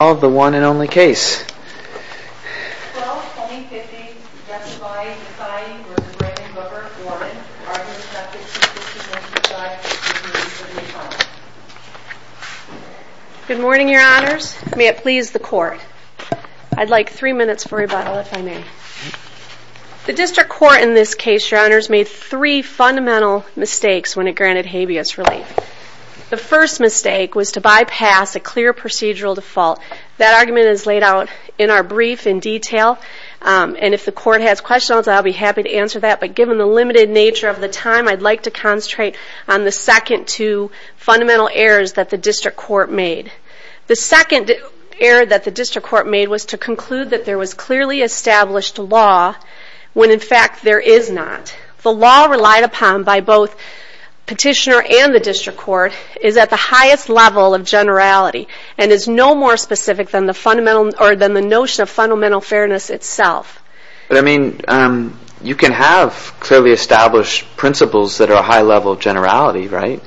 Good morning, your honors. May it please the court. I'd like three minutes for rebuttal if I may. The district court in this case, your honors, made three fundamental mistakes when it granted habeas relief. The first mistake was to bypass a clear procedural default. That argument is laid out in our brief in detail. And if the court has questions, I'll be happy to answer that, but given the limited nature of the time, I'd like to concentrate on the second two fundamental errors that the district court made. The second error that the district court made was to conclude that there was clearly established law when in fact there is not. The law relied upon by both the petitioner and the district court is at the highest level of generality and is no more specific than the notion of fundamental fairness itself. But I mean, you can have clearly established principles that are a high level of generality, right?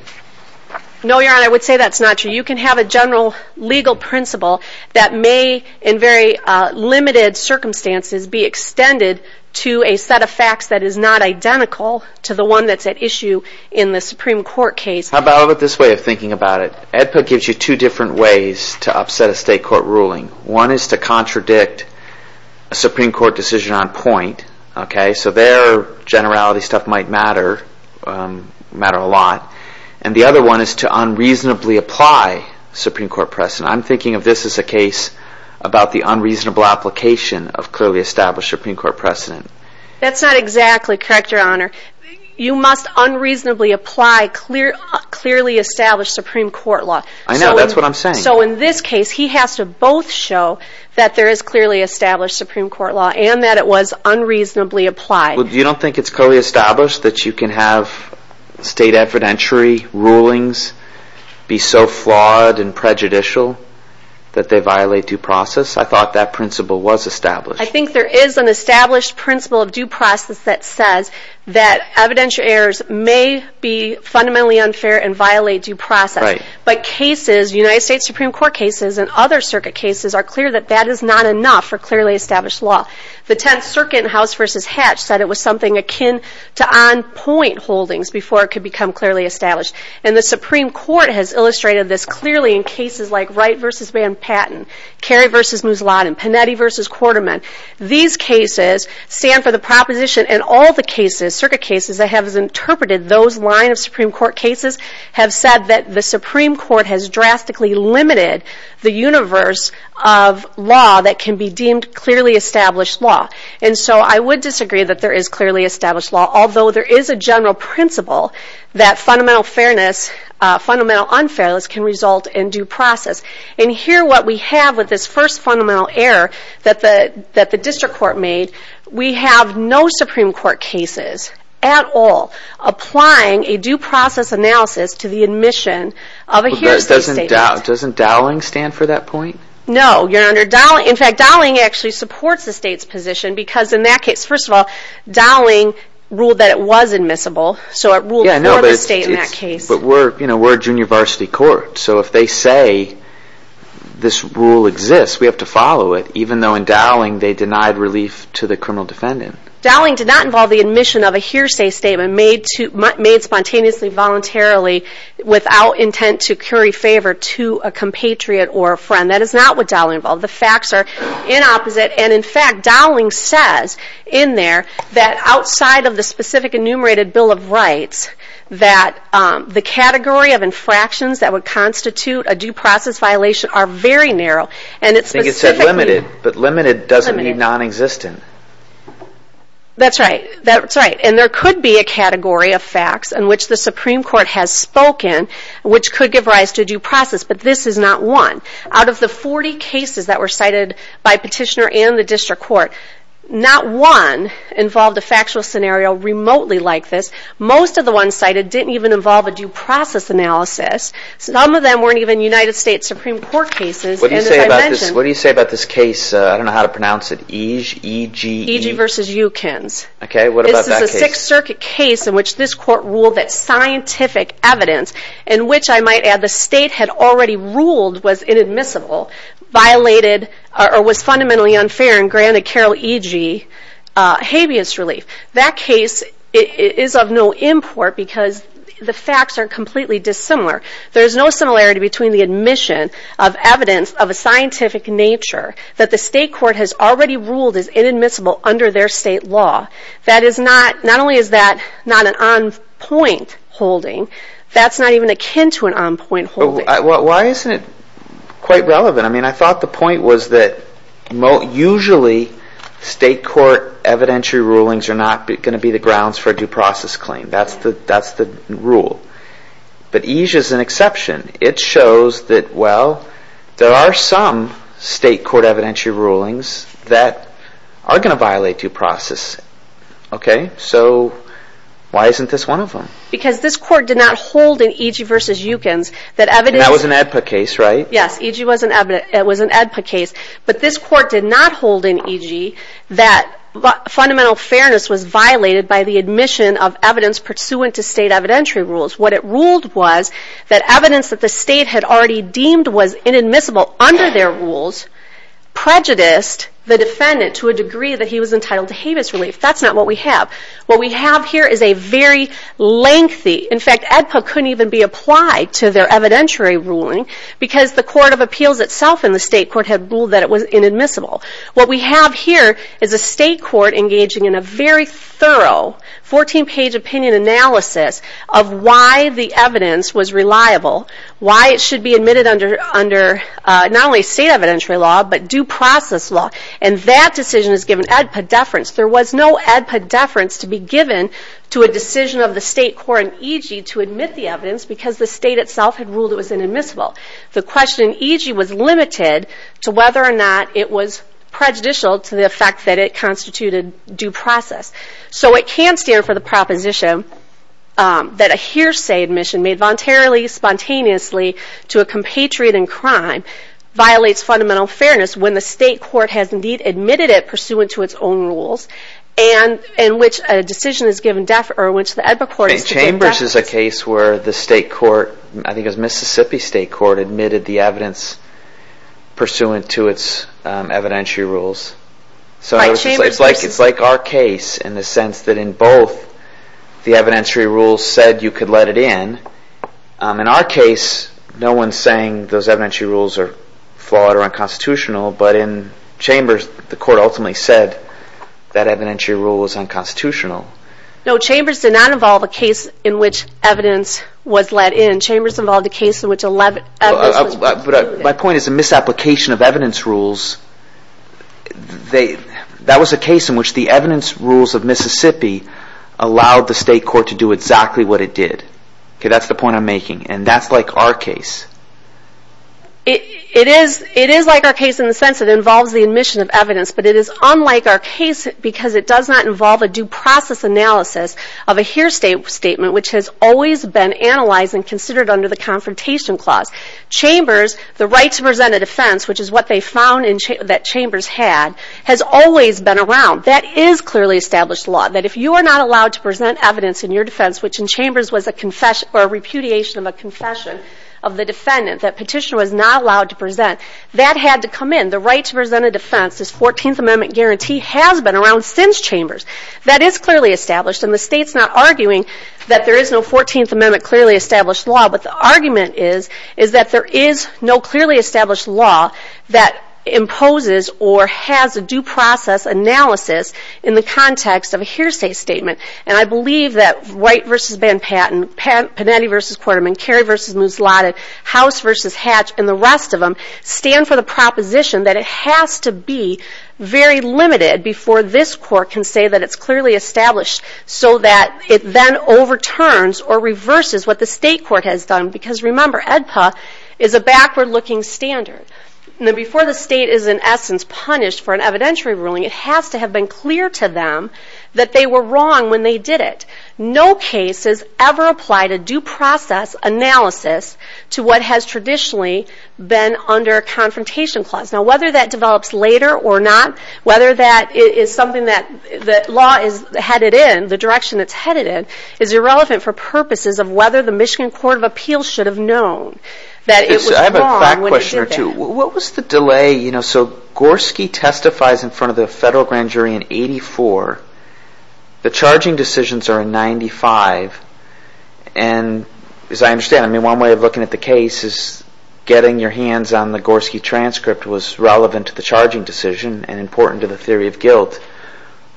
No, your honor, I would say that's not true. You can have a general legal principle that may, in very limited circumstances, be extended to a set of facts that is not identical to the one that's at issue in the Supreme Court case. How about this way of thinking about it? AEDPA gives you two different ways to upset a state court ruling. One is to contradict a Supreme Court decision on point, okay? So their generality stuff might matter a lot. And the other one is to unreasonably apply Supreme Court precedent. I'm thinking of this as a case about the unreasonable application of clearly established Supreme Court precedent. That's not exactly correct, your honor. You must unreasonably apply clearly established Supreme Court law. I know, that's what I'm saying. So in this case, he has to both show that there is clearly established Supreme Court law and that it was unreasonably applied. You don't think it's clearly established that you can have state evidentiary rulings be so flawed and prejudicial that they violate due process? I thought that principle was established. I think there is an established principle of due process that says that evidential errors may be fundamentally unfair and violate due process. But cases, United States Supreme Court cases and other circuit cases, are clear that that is not enough for clearly established law. The Tenth Circuit in House v. Hatch said it was something akin to on-point holdings before it could become clearly established. And the Supreme Court has illustrated this clearly in cases like Wright v. Van Patten, Kerry v. Mousladen, Panetti v. Quarterman. These cases stand for the proposition and all the cases, circuit cases, that have interpreted those line of Supreme Court cases have said that the Supreme Court has drastically limited the universe of law that can be deemed clearly established law. And so I would disagree that there is clearly established law, although there is a general principle that fundamental unfairness can result in due process. And here is what we have with this first fundamental error that the District Court made. We have no Supreme Court cases at all applying a due process analysis to the admission of a hearsay statement. Doesn't Dowling stand for that point? No. In fact, Dowling actually supports the state's position because in that case, first of all, Dowling ruled that it was admissible. So it ruled for the state in that case. But we're a junior varsity court, so if they say this rule exists, we have to follow it, even though in Dowling they denied relief to the criminal defendant. Dowling did not involve the admission of a hearsay statement made spontaneously, voluntarily, without intent to curry favor to a compatriot or a friend. That is not what Dowling involved. The facts are inopposite. And in fact, Dowling says in there that outside of the specific enumerated Bill of Rights that the category of infractions that would constitute a due process violation are very narrow. I think it said limited, but limited doesn't mean non-existent. That's right. And there could be a category of facts in which the Supreme Court has spoken which could give rise to due process, but this is not one. Out of the 40 cases that were cited by Petitioner and the District Court, not one involved a factual scenario remotely like this. Most of the ones cited didn't even involve a due process analysis. Some of them weren't even United States Supreme Court cases. What do you say about this case, I don't know how to pronounce it, Ege? Ege v. Eukins. Okay, what about that case? The Sixth Circuit case in which this court ruled that scientific evidence in which I might add the state had already ruled was inadmissible, violated or was fundamentally unfair and granted Carol Ege habeas relief. That case is of no import because the facts are completely dissimilar. There's no similarity between the admission of evidence of a scientific nature that the state court has already ruled as inadmissible under their state law. Not only is that not an on-point holding, that's not even akin to an on-point holding. Why isn't it quite relevant? I thought the point was that usually state court evidentiary rulings are not going to be the grounds for a due process claim. That's the rule. But Ege is an exception. It shows that, well, there are some state court evidentiary rulings that are going to violate due process. Okay, so why isn't this one of them? Because this court did not hold in Ege v. Eukins that evidence... That was an AEDPA case, right? Yes, Ege was an AEDPA case. But this court did not hold in Ege that fundamental fairness was violated by the admission of evidence pursuant to state evidentiary rules. What it ruled was that evidence that the state had already deemed was inadmissible under their rules prejudiced the defendant to a degree that he was entitled to habeas relief. That's not what we have. What we have here is a very lengthy... In fact, AEDPA couldn't even be applied to their evidentiary ruling because the Court of Appeals itself and the state court had ruled that it was inadmissible. What we have here is a state court engaging in a very thorough 14-page opinion analysis of why the evidence was reliable, why it should be admitted under not only state evidentiary law but due process law. And that decision is given AEDPA deference. There was no AEDPA deference to be given to a decision of the state court in Ege to admit the evidence because the state itself had ruled it was inadmissible. The question in Ege was limited to whether or not it was prejudicial to the fact that it constituted due process. So it can stand for the proposition that a hearsay admission made voluntarily, spontaneously to a compatriot in crime violates fundamental fairness when the state court has indeed admitted it pursuant to its own rules and in which a decision is given deference... Chambers is a case where the state court, I think it was Mississippi State Court, admitted the evidence pursuant to its evidentiary rules. So it's like our case in the sense that in both the evidentiary rules said you could let it in. In our case, no one's saying those evidentiary rules are flawed or unconstitutional but in Chambers the court ultimately said that evidentiary rule was unconstitutional. No, Chambers did not involve a case in which evidence was let in. Chambers involved a case in which... My point is a misapplication of evidence rules. That was a case in which the evidence rules of Mississippi allowed the state court to do exactly what it did. That's the point I'm making and that's like our case. It is like our case in the sense that it involves the admission of evidence but it is unlike our case because it does not involve a due process analysis of a here statement which has always been analyzed and considered under the Confrontation Clause. Chambers, the right to present a defense, which is what they found that Chambers had, has always been around. That is clearly established law, that if you are not allowed to present evidence in your defense, which in Chambers was a repudiation of a confession of the defendant, that petitioner was not allowed to present, that had to come in. The right to present a defense, this 14th Amendment guarantee, has been around since Chambers. That is clearly established and the state is not arguing that there is no 14th Amendment clearly established law but the argument is that there is no clearly established law that imposes or has a due process analysis in the context of a hearsay statement. And I believe that Wright v. Van Patten, Panetti v. Quarterman, Carey v. Muslata, House v. Hatch and the rest of them stand for the proposition that it has to be very limited before this court can say that it is clearly established so that it then overturns or reverses what the state court has done. Because remember, AEDPA is a backward looking standard. Before the state is in essence punished for an evidentiary ruling, it has to have been clear to them that they were wrong when they did it. No case has ever applied a due process analysis to what has traditionally been under a confrontation clause. Now whether that develops later or not, whether that is something that law is headed in, the direction it is headed in, is irrelevant for purposes of whether the Michigan Court of Appeals should have known that it was wrong when it did that. Thank you. What was the delay? So Gorski testifies in front of the federal grand jury in 1984. The charging decisions are in 1995. And as I understand, one way of looking at the case is getting your hands on the Gorski transcript was relevant to the charging decision and important to the theory of guilt.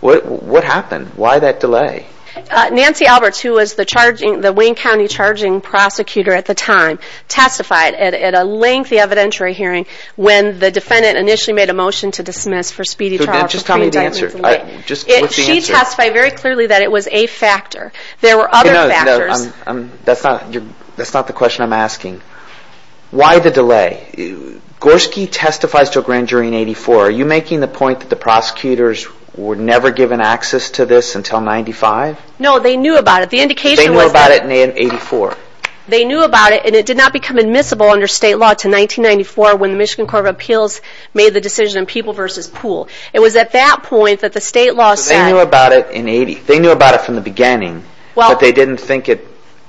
What happened? Why that delay? Nancy Alberts, who was the Wayne County charging prosecutor at the time, testified at a lengthy evidentiary hearing when the defendant initially made a motion to dismiss for speedy trial. Just tell me the answer. She testified very clearly that it was a factor. There were other factors. That's not the question I'm asking. Why the delay? Gorski testifies to a grand jury in 1984. Are you making the point that the prosecutors were never given access to this until 1995? No, they knew about it. They knew about it in 1984. They knew about it, and it did not become admissible under state law until 1994 when the Michigan Court of Appeals made the decision on people versus pool. It was at that point that the state law said... They knew about it from the beginning, but they didn't think it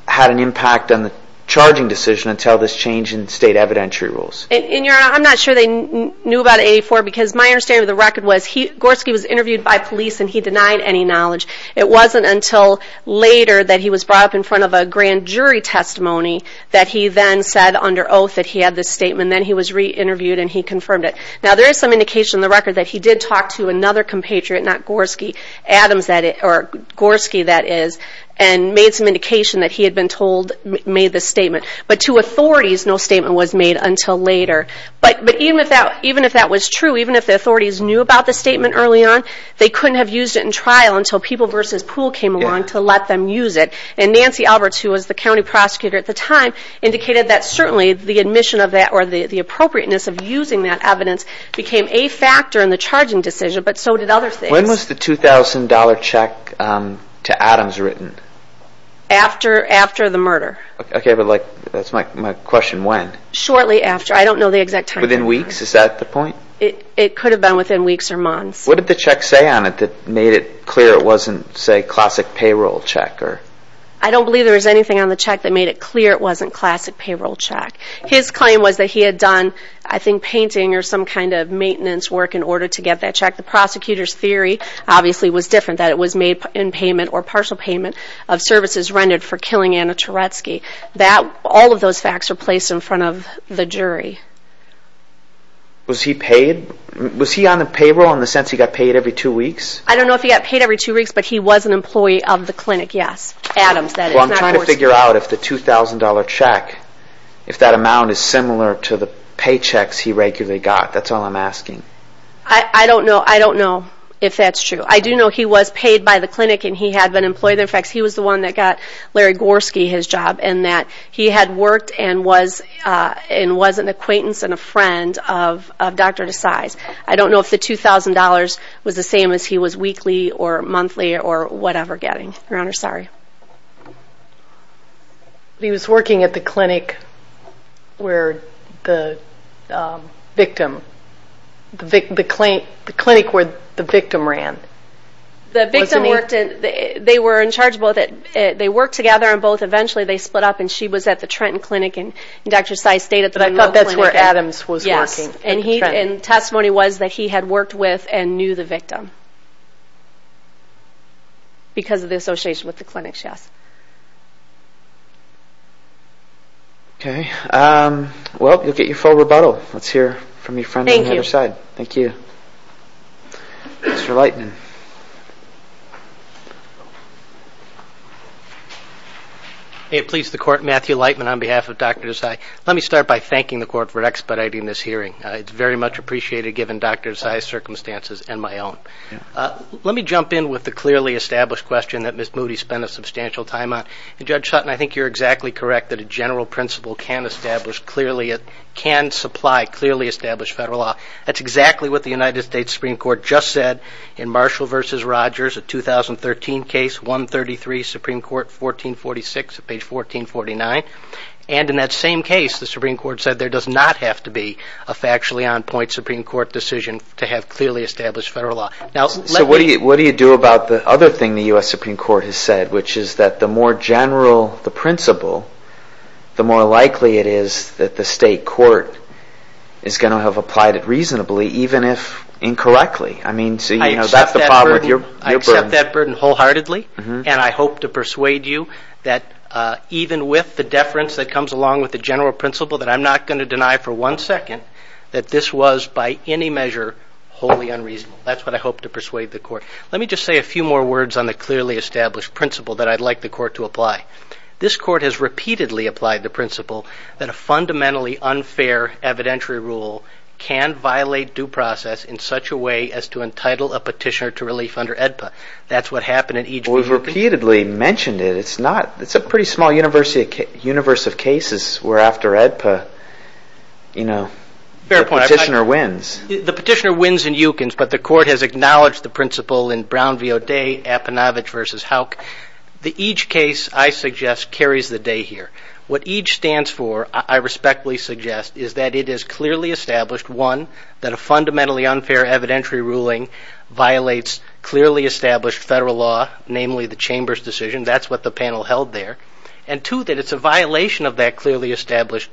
had an impact on the charging decision until this change in state evidentiary rules. I'm not sure they knew about it in 1984 because my understanding of the record was Gorski was interviewed by police and he denied any knowledge. It wasn't until later that he was brought up in front of a grand jury testimony that he then said under oath that he had this statement. Then he was re-interviewed and he confirmed it. Now there is some indication in the record that he did talk to another compatriot, not Gorski, Gorski that is, and made some indication that he had been told... made this statement. But to authorities, no statement was made until later. But even if that was true, even if the authorities knew about the statement early on, they couldn't have used it in trial until people versus pool came along to let them use it. And Nancy Alberts, who was the county prosecutor at the time, indicated that certainly the admission of that or the appropriateness of using that evidence became a factor in the charging decision, but so did other things. When was the $2,000 check to Adams written? After the murder. Okay, but that's my question, when? Shortly after, I don't know the exact time. Within weeks, is that the point? It could have been within weeks or months. What did the check say on it that made it clear it wasn't, say, classic payroll check? I don't believe there was anything on the check that made it clear it wasn't classic payroll check. His claim was that he had done, I think, painting or some kind of maintenance work in order to get that check. The prosecutor's theory, obviously, was different, that it was made in payment or partial payment of services rendered for killing Anna Turetsky. All of those facts were placed in front of the jury. Was he paid? Was he on the payroll in the sense he got paid every two weeks? I don't know if he got paid every two weeks, but he was an employee of the clinic, yes. Adams, that is. Well, I'm trying to figure out if the $2,000 check, if that amount is similar to the paychecks he regularly got. That's all I'm asking. I don't know if that's true. I do know he was paid by the clinic and he had been employed there. In fact, he was the one that got Larry Gorski his job and that he had worked and was an acquaintance and a friend of Dr. Desai's. I don't know if the $2,000 was the same as he was weekly or monthly or whatever getting. Your Honor, sorry. He was working at the clinic where the victim, the clinic where the victim ran. The victim worked at, they were in charge of both. They worked together on both. Eventually they split up and she was at the Trenton Clinic and Dr. Desai stayed at the Trenton Clinic. But I thought that's where Adams was working. And testimony was that he had worked with and knew the victim because of the association with the clinic, yes. Okay. Well, look at your full rebuttal. Let's hear from your friend on the other side. Thank you. Thank you. Mr. Lightman. May it please the Court, Matthew Lightman on behalf of Dr. Desai. Let me start by thanking the Court for expediting this hearing. It's very much appreciated given Dr. Desai's circumstances and my own. Let me jump in with the clearly established question that Ms. Moody spent a substantial time on. And Judge Sutton, I think you're exactly correct that a general principle can establish clearly, can supply clearly established federal law. That's exactly what the United States Supreme Court just said in Marshall v. Rogers, a 2013 case, 133, Supreme Court, 1446, page 1449. And in that same case, the Supreme Court said there does not have to be a factually on point Supreme Court decision to have clearly established federal law. So what do you do about the other thing the U.S. Supreme Court has said, which is that the more general the principle, the more likely it is that the state court is going to have applied it reasonably, even if incorrectly. I accept that burden wholeheartedly. And I hope to persuade you that even with the deference that comes along with the general principle that I'm not going to deny for one second that this was by any measure wholly unreasonable. That's what I hope to persuade the Court. Let me just say a few more words on the clearly established principle that I'd like the Court to apply. This Court has repeatedly applied the principle that a fundamentally unfair evidentiary rule can violate due process in such a way as to entitle a petitioner to relief under AEDPA. That's what happened in each case. We've repeatedly mentioned it. It's a pretty small universe of cases where after AEDPA, you know, the petitioner wins. The petitioner wins in Yukins, but the Court has acknowledged the principle in Brown v. O'Day, Apinovich v. Houck. Each case, I suggest, carries the day here. What each stands for, I respectfully suggest, is that it is clearly established, one, that a fundamentally unfair evidentiary ruling violates clearly established federal law, namely the Chamber's decision. That's what the panel held there. And two, that it's a violation of that clearly established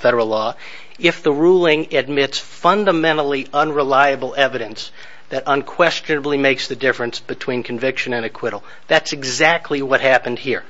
federal law if the ruling admits fundamentally unreliable evidence that unquestionably makes the difference between conviction and acquittal. That's exactly what happened here.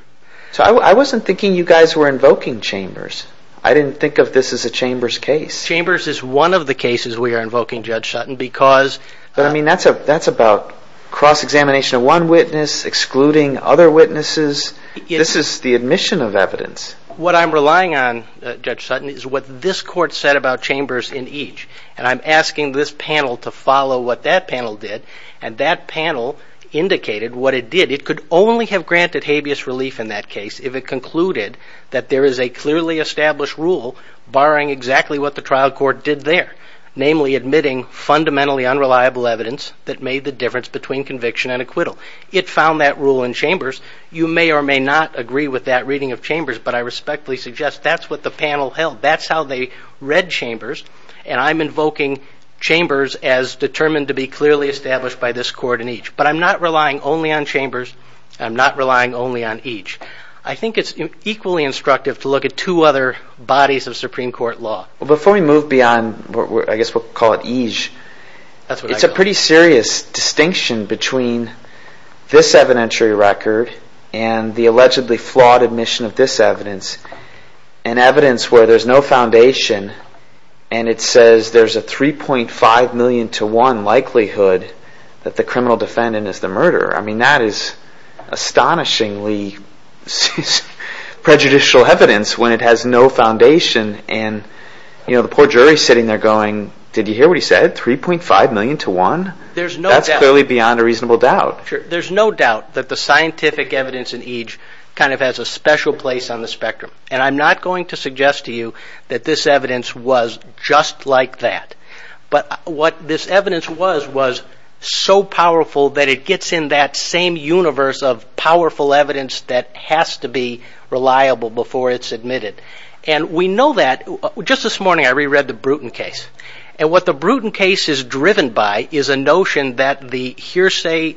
So I wasn't thinking you guys were invoking Chambers. I didn't think of this as a Chambers case. Chambers is one of the cases we are invoking, Judge Sutton, because... But, I mean, that's about cross-examination of one witness, excluding other witnesses. This is the admission of evidence. What I'm relying on, Judge Sutton, is what this Court said about Chambers in each. And I'm asking this panel to follow what that panel did. And that panel indicated what it did. It could only have granted habeas relief in that case if it concluded that there is a clearly established rule barring exactly what the trial court did there, namely admitting fundamentally unreliable evidence that made the difference between conviction and acquittal. It found that rule in Chambers. You may or may not agree with that reading of Chambers, but I respectfully suggest that's what the panel held. That's how they read Chambers. And I'm invoking Chambers as determined to be clearly established by this Court in each. But I'm not relying only on Chambers. I'm not relying only on each. I think it's equally instructive to look at two other bodies of Supreme Court law. Well, before we move beyond, I guess we'll call it eej, it's a pretty serious distinction between this evidentiary record and the allegedly flawed admission of this evidence, an evidence where there's no foundation and it says there's a 3.5 million to 1 likelihood that the criminal defendant is the murderer. I mean, that is astonishingly prejudicial evidence when it has no foundation. And the poor jury is sitting there going, did you hear what he said, 3.5 million to 1? That's clearly beyond a reasonable doubt. There's no doubt that the scientific evidence in eej kind of has a special place on the spectrum. And I'm not going to suggest to you that this evidence was just like that. But what this evidence was was so powerful that it gets in that same universe of powerful evidence that has to be reliable before it's admitted. And we know that, just this morning I reread the Bruton case. And that the hearsay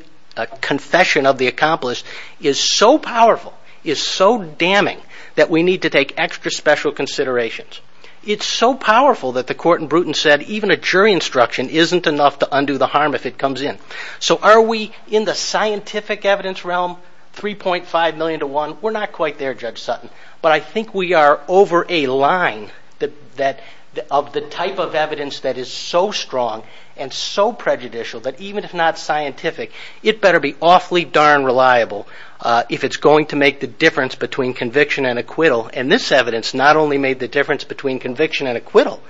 confession of the accomplice is so powerful, is so damning that we need to take extra special considerations. It's so powerful that the court in Bruton said even a jury instruction isn't enough to undo the harm if it comes in. So are we in the scientific evidence realm, 3.5 million to 1? We're not quite there, Judge Sutton. But I think we are over a line of the type of evidence that is so strong and so prejudicial that even if not scientific, it better be awfully darn reliable if it's going to make the difference between conviction and acquittal. And this evidence not only made the difference between conviction and acquittal,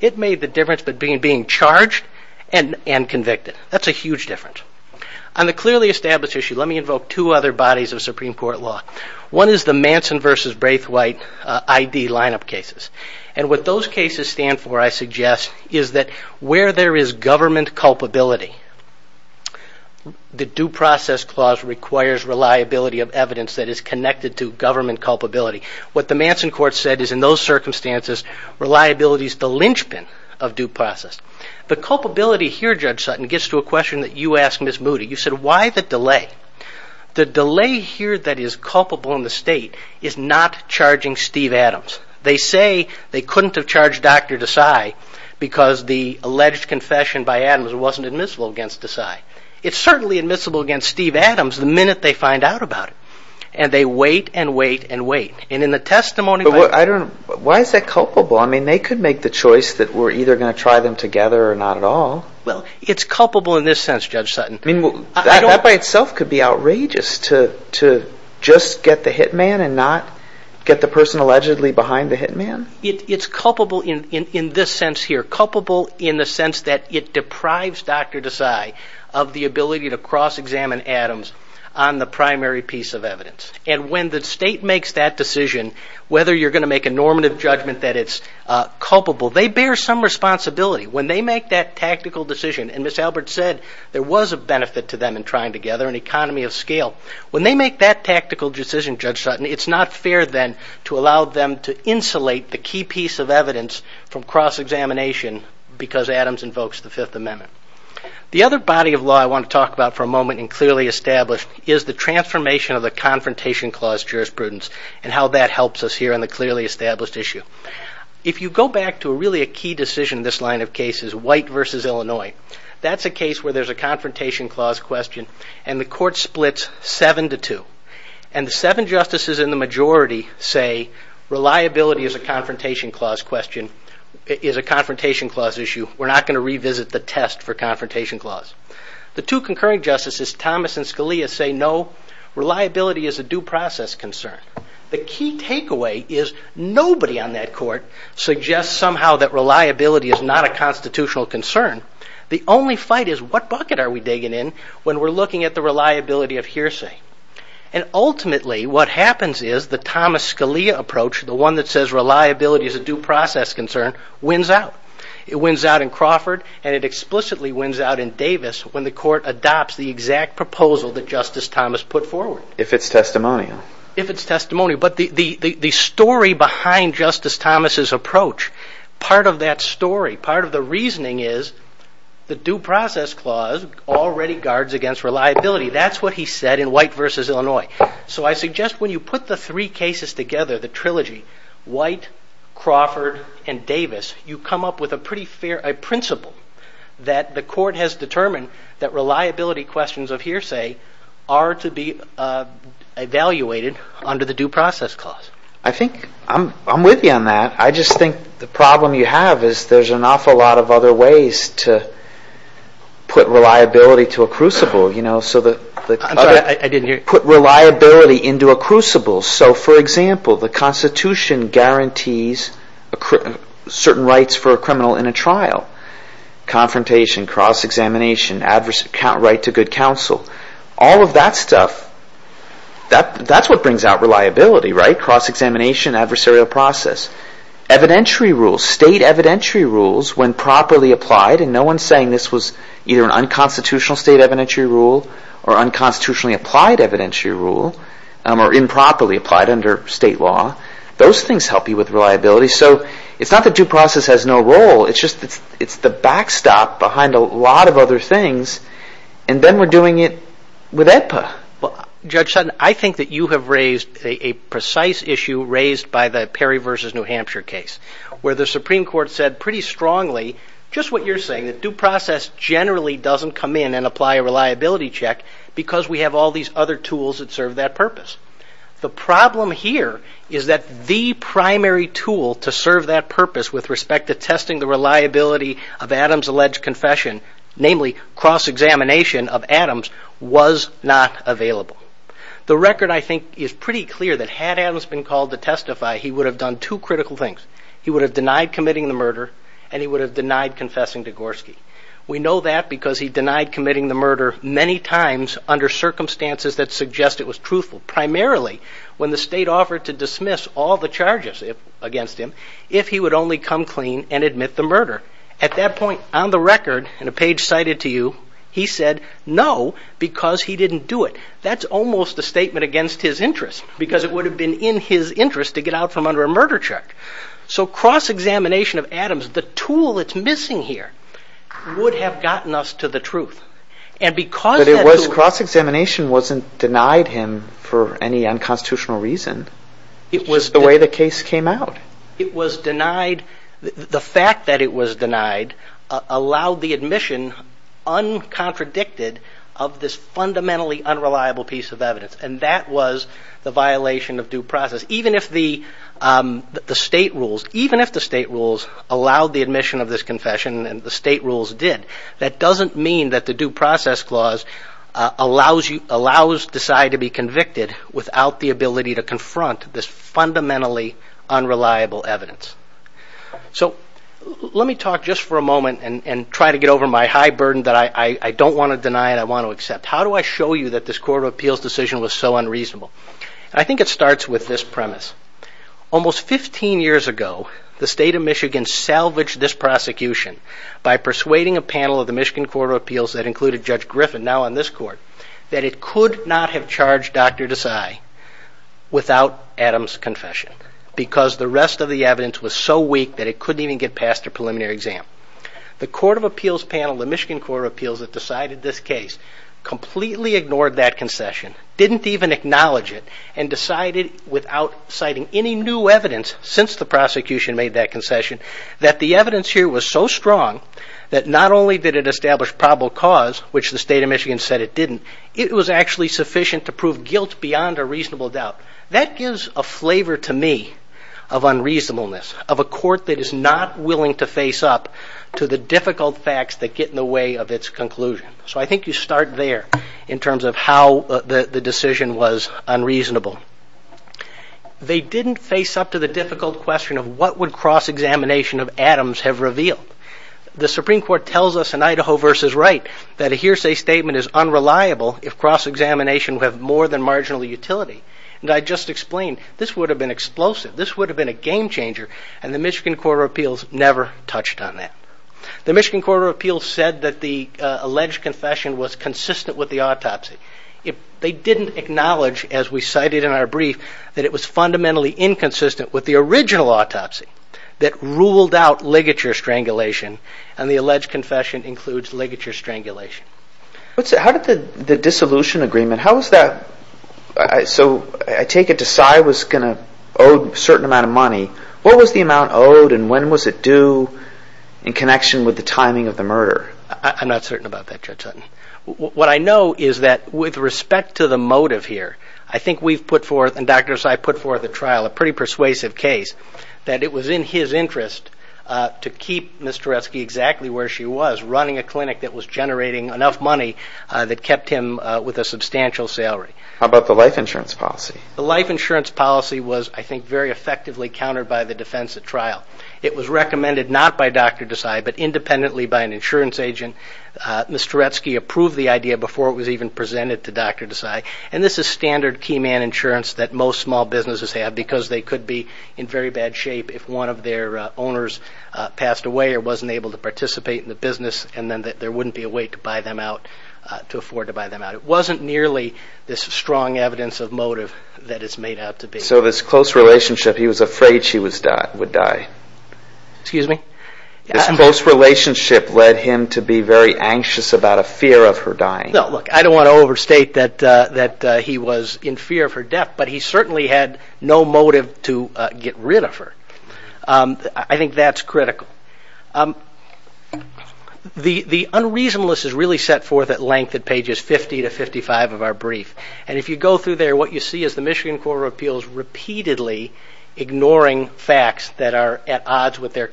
it made the difference between being charged and convicted. That's a huge difference. On the clearly established issue, let me invoke two other bodies of Supreme Court law. One is the Manson v. Braithwaite I.D. lineup cases. And what those cases stand for, I suggest, is that where there is government culpability, the Due Process Clause requires reliability of evidence that is connected to government culpability. What the Manson Court said is in those circumstances, reliability is the linchpin of due process. The culpability here, Judge Sutton, gets to a question that you asked Ms. Moody. You said, why the delay? The delay here that is culpable in the state is not charging Steve Adams. They say they couldn't have charged Dr. Desai because the alleged confession by Adams wasn't admissible against Desai. It's certainly admissible against Steve Adams the minute they find out about it. And they wait and wait and wait. And in the testimony... But why is that culpable? I mean, they could make the choice that we're either going to try them together or not at all. Well, it's culpable in this sense, Judge Sutton. I mean, that by itself could be outrageous to just get the hitman and not get the person allegedly behind the hitman? It's culpable in this sense here. Culpable in the sense that it deprives Dr. Desai of the ability to cross-examine Adams on the primary piece of evidence. And when the state makes that decision, whether you're going to make a normative judgment that it's culpable, they bear some responsibility. When they make that tactical decision, and Ms. Albert said there was a benefit to them in trying together, an economy of scale. When they make that tactical decision, Judge Sutton, it's not fair then to allow them to insulate the key piece of evidence from cross-examination because Adams invokes the Fifth Amendment. The other body of law I want to talk about for a moment and clearly establish is the transformation of the Confrontation Clause jurisprudence and how that helps us here on the clearly established issue. If you go back to really a key decision in this line of cases, White v. Illinois, that's a case where there's a Confrontation Clause question and the court splits seven to two. And the seven justices in the majority say reliability is a Confrontation Clause issue. We're not going to revisit the test for Confrontation Clause. The two concurring justices, Thomas and Scalia, say no. Reliability is a due process concern. The key takeaway is nobody on that court suggests somehow that reliability is not a constitutional concern. The only fight is what bucket are we digging in when we're looking at the reliability of hearsay. And ultimately, what happens is the Thomas-Scalia approach, the one that says reliability is a due process concern, wins out. It wins out in Crawford and it explicitly wins out in Davis when the court adopts the exact proposal that Justice Thomas put forward. If it's testimonial. If it's testimonial. But the story behind Justice Thomas' approach, part of that story, part of the reasoning is the Due Process Clause already guards against reliability. That's what he said in White v. Illinois. So I suggest when you put the three cases together, the trilogy, White, Crawford, and Davis, you come up with a principle that the court has determined that reliability questions of hearsay are to be evaluated under the Due Process Clause. I think I'm with you on that. I just think the problem you have is there's an awful lot of other ways to put reliability to a crucible. I'm sorry, I didn't hear you. Put reliability into a crucible. So, for example, the Constitution guarantees certain rights for a criminal in a trial. Confrontation, cross-examination, right to good counsel. All of that stuff, that's what brings out reliability, right? Cross-examination, adversarial process. Evidentiary rules, state evidentiary rules, when properly applied, and no one's saying this was either an unconstitutional state evidentiary rule or unconstitutionally applied evidentiary rule or improperly applied under state law, those things help you with reliability. So it's not that due process has no role, it's just it's the backstop behind a lot of other things, and then we're doing it with AEDPA. Judge Sutton, I think that you have raised a precise issue raised by the Perry v. New Hampshire case where the Supreme Court said pretty strongly just what you're saying, that due process generally doesn't come in and apply a reliability check because we have all these other tools that serve that purpose. The problem here is that the primary tool to serve that purpose with respect to testing the reliability of Adams' alleged confession, namely cross-examination of Adams, was not available. The record, I think, is pretty clear he would have done two critical things. He would have denied committing the murder, and he would have denied confessing to Gorski. We know that because he denied committing the murder many times under circumstances that suggest it was truthful, primarily when the state offered to dismiss all the charges against him if he would only come clean and admit the murder. At that point, on the record, in a page cited to you, he said no because he didn't do it. That's almost a statement against his interest because it would have been in his interest to get out from under a murder check. So cross-examination of Adams, the tool that's missing here, would have gotten us to the truth. But cross-examination wasn't denied him for any unconstitutional reason. It was the way the case came out. The fact that it was denied allowed the admission, uncontradicted, of this fundamentally unreliable piece of evidence, and that was the violation of due process. Because even if the state rules allowed the admission of this confession and the state rules did, that doesn't mean that the due process clause allows decide to be convicted without the ability to confront this fundamentally unreliable evidence. So let me talk just for a moment and try to get over my high burden that I don't want to deny and I want to accept. How do I show you that this Court of Appeals decision was so unreasonable? I think it starts with this premise. Almost 15 years ago, the state of Michigan salvaged this prosecution by persuading a panel of the Michigan Court of Appeals that included Judge Griffin, now on this Court, that it could not have charged Dr. Desai without Adams' confession because the rest of the evidence was so weak that it couldn't even get past their preliminary exam. The Court of Appeals panel of the Michigan Court of Appeals that decided this case completely ignored that concession, didn't even acknowledge it, and decided without citing any new evidence since the prosecution made that concession that the evidence here was so strong that not only did it establish probable cause, which the state of Michigan said it didn't, it was actually sufficient to prove guilt beyond a reasonable doubt. That gives a flavor to me of unreasonableness, of a court that is not willing to face up to the difficult facts that get in the way of its conclusion. So I think you start there in terms of how the decision was unreasonable. They didn't face up to the difficult question of what would cross-examination of Adams have revealed. The Supreme Court tells us in Idaho v. Wright that a hearsay statement is unreliable if cross-examination would have more than marginal utility. And I just explained, this would have been explosive, this would have been a game-changer, and the Michigan Court of Appeals never touched on that. The Michigan Court of Appeals said that the alleged confession was consistent with the autopsy. They didn't acknowledge, as we cited in our brief, that it was fundamentally inconsistent with the original autopsy that ruled out ligature strangulation, and the alleged confession includes ligature strangulation. How did the dissolution agreement... So I take it Desai was going to owe a certain amount of money. What was the amount owed and when was it due in connection with the timing of the murder? I'm not certain about that, Judge Sutton. What I know is that with respect to the motive here, I think we've put forth, and Dr. Desai put forth at trial, a pretty persuasive case that it was in his interest to keep Ms. Tereske exactly where she was, running a clinic that was generating enough money that kept him with a substantial salary. How about the life insurance policy? The life insurance policy was, I think, very effectively countered by the defense at trial. It was recommended not by Dr. Desai, but independently by an insurance agent. Ms. Tereske approved the idea before it was even presented to Dr. Desai. And this is standard key man insurance that most small businesses have because they could be in very bad shape if one of their owners passed away or wasn't able to participate in the business, and then there wouldn't be a way to buy them out, to afford to buy them out. It wasn't nearly this strong evidence of motive that it's made out to be. So this close relationship, he was afraid she would die. Excuse me? This close relationship led him to be very anxious about a fear of her dying. No, look, I don't want to overstate that he was in fear of her death, but he certainly had no motive to get rid of her. I think that's critical. The unreasonableness is really set forth at length at pages 50 to 55 of our brief. And if you go through there, what you see is the Michigan Court of Appeals repeatedly ignoring facts that are at odds with their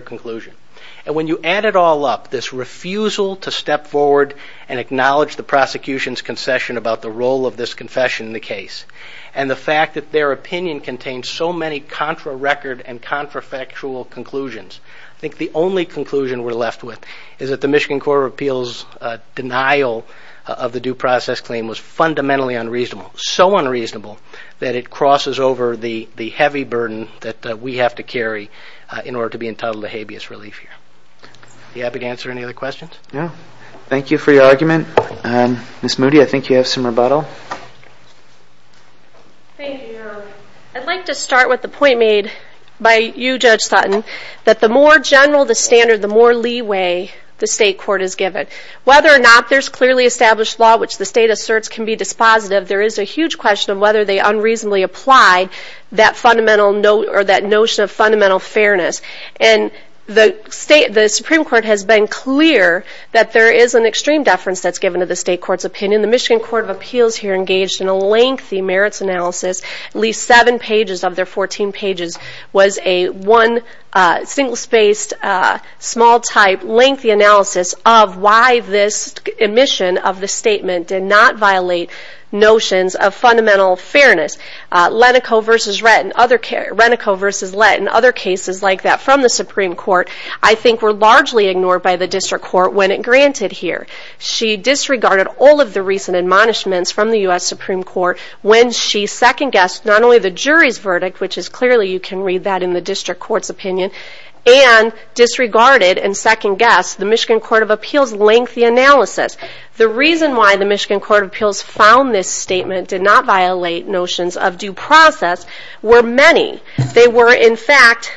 conclusion. And when you add it all up, this refusal to step forward and acknowledge the prosecution's concession about the role of this confession in the case, and the fact that their opinion contains so many contra-record and contra-factual conclusions, I think the only conclusion we're left with is that the Michigan Court of Appeals' denial of the due process claim was fundamentally unreasonable, so unreasonable that it crosses over the heavy burden that we have to carry in order to be entitled to habeas relief here. Are you happy to answer any other questions? No. Thank you for your argument. Ms. Moody, I think you have some rebuttal. Thank you, Your Honor. I'd like to start with the point made by you, Judge Sutton, that the more general the standard, the more leeway the state court is given. Whether or not there's clearly established law which the state asserts can be dispositive, there is a huge question of whether they unreasonably apply that notion of fundamental fairness. And the Supreme Court has been clear that there is an extreme deference that's given to the state court's opinion. The Michigan Court of Appeals here engaged in a lengthy merits analysis. At least seven pages of their 14 pages was a one single-spaced, small-type, lengthy analysis of why this admission of the statement did not violate notions of fundamental fairness. Lenico v. Lett and other cases like that from the Supreme Court I think were largely ignored by the district court when it granted here. She disregarded all of the recent admonishments from the U.S. Supreme Court when she second-guessed not only the jury's verdict, which is clearly you can read that in the district court's opinion, and disregarded and second-guessed the Michigan Court of Appeals lengthy analysis. The reason why the Michigan Court of Appeals found this statement did not violate notions of due process were many. They were, in fact,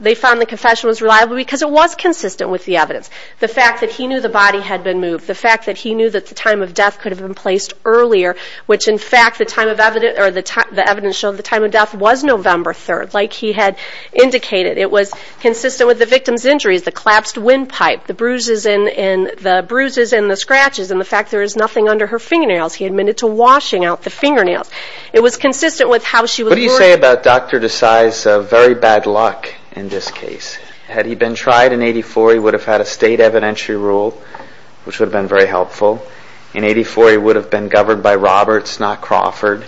they found the confession was reliable because it was consistent with the evidence. The fact that he knew the body had been moved, the fact that he knew that the time of death could have been placed earlier, which in fact the evidence showed the time of death was November 3rd, like he had indicated. It was consistent with the victim's injuries, the collapsed windpipe, the bruises and the scratches, and the fact there is nothing under her fingernails. He admitted to washing out the fingernails. It was consistent with how she was murdered. What do you say about Dr. Desai's very bad luck in this case? Had he been tried in 84, he would have had a state evidentiary rule, which would have been very helpful. In 84, he would have been governed by Roberts, not Crawford,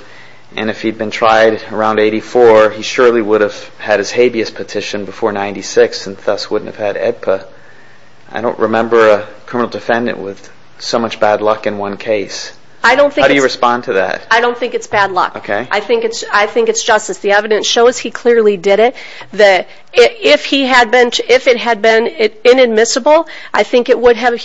and if he'd been tried around 84, he surely would have had his habeas petition before 96, and thus wouldn't have had AEDPA I don't remember a criminal defendant with so much bad luck in one case. How do you respond to that? I don't think it's bad luck. I think it's justice. The evidence shows he clearly did it. If it had been inadmissible, I think he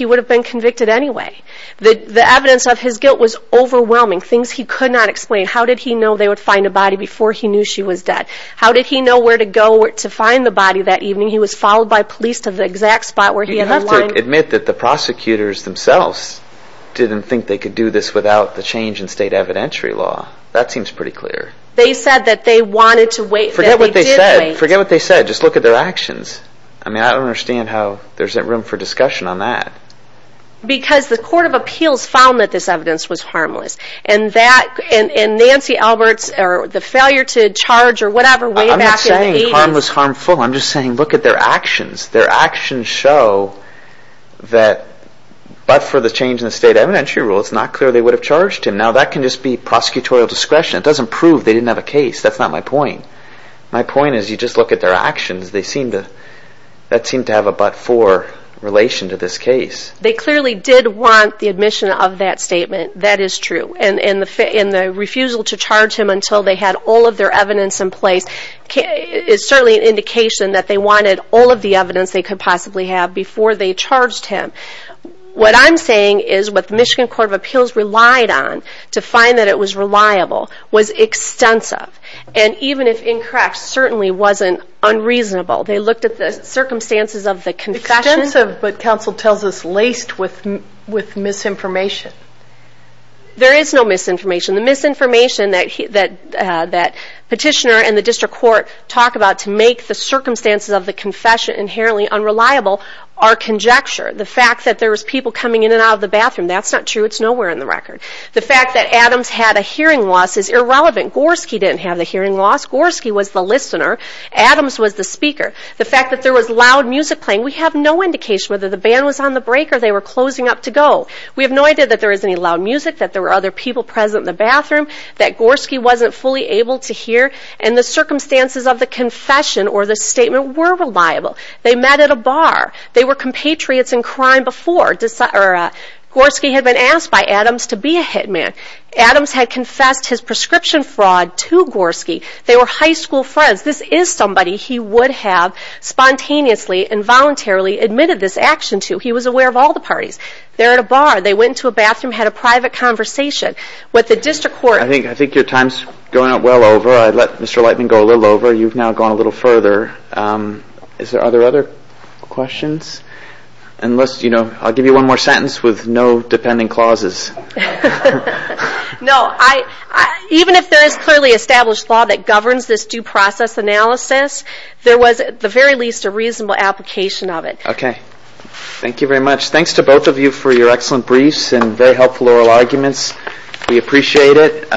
would have been convicted anyway. The evidence of his guilt was overwhelming, things he could not explain. How did he know they would find a body before he knew she was dead? How did he know where to go to find the body that evening? He was followed by police to the exact spot where he had aligned... You have to admit that the prosecutors themselves didn't think they could do this without the change in state evidentiary law. That seems pretty clear. They said that they wanted to wait... Forget what they said. Forget what they said. Just look at their actions. I mean, I don't understand how there isn't room for discussion on that. Because the Court of Appeals found that this evidence was harmless. And Nancy Alberts, the failure to charge or whatever way back in the 80s... I'm not saying harmless, harmful. I'm just saying look at their actions. Their actions show that but for the change in the state evidentiary rule, it's not clear they would have charged him. Now, that can just be prosecutorial discretion. It doesn't prove they didn't have a case. That's not my point. My point is you just look at their actions. They seem to... That seemed to have a but for relation to this case. They clearly did want the admission of that statement. That is true. And the refusal to charge him until they had all of their evidence in place is certainly an indication that they wanted all of the evidence they could possibly have before they charged him. What I'm saying is what the Michigan Court of Appeals relied on to find that it was reliable was extensive. And even if incorrect, certainly wasn't unreasonable. They looked at the circumstances of the confession... Extensive, but counsel tells us laced with misinformation. There is no misinformation. The misinformation that petitioner and the district court talk about to make the circumstances of the confession inherently unreliable are conjecture. The fact that there was people coming in and out of the bathroom, that's not true. It's nowhere in the record. The fact that Adams had a hearing loss is irrelevant. Gorski didn't have a hearing loss. Gorski was the listener. Adams was the speaker. The fact that there was loud music playing, we have no indication whether the band was on the break or they were closing up to go. We have no idea that there was any loud music, that there were other people present in the bathroom, that Gorski wasn't fully able to hear. And the circumstances of the confession or the statement were reliable. They met at a bar. They were compatriots in crime before. Gorski had been asked by Adams to be a hitman. Adams had confessed his prescription fraud to Gorski. They were high school friends. This is somebody he would have spontaneously and voluntarily admitted this action to. He was aware of all the parties. They're at a bar. They went into a bathroom, had a private conversation. I think your time is going well over. I let Mr. Lightman go a little over. You've now gone a little further. Are there other questions? I'll give you one more sentence with no dependent clauses. No. Even if there is clearly established law that governs this due process analysis, there was at the very least a reasonable application of it. Okay. Thank you very much. Thanks to both of you for your excellent briefs and very helpful oral arguments. We appreciate it.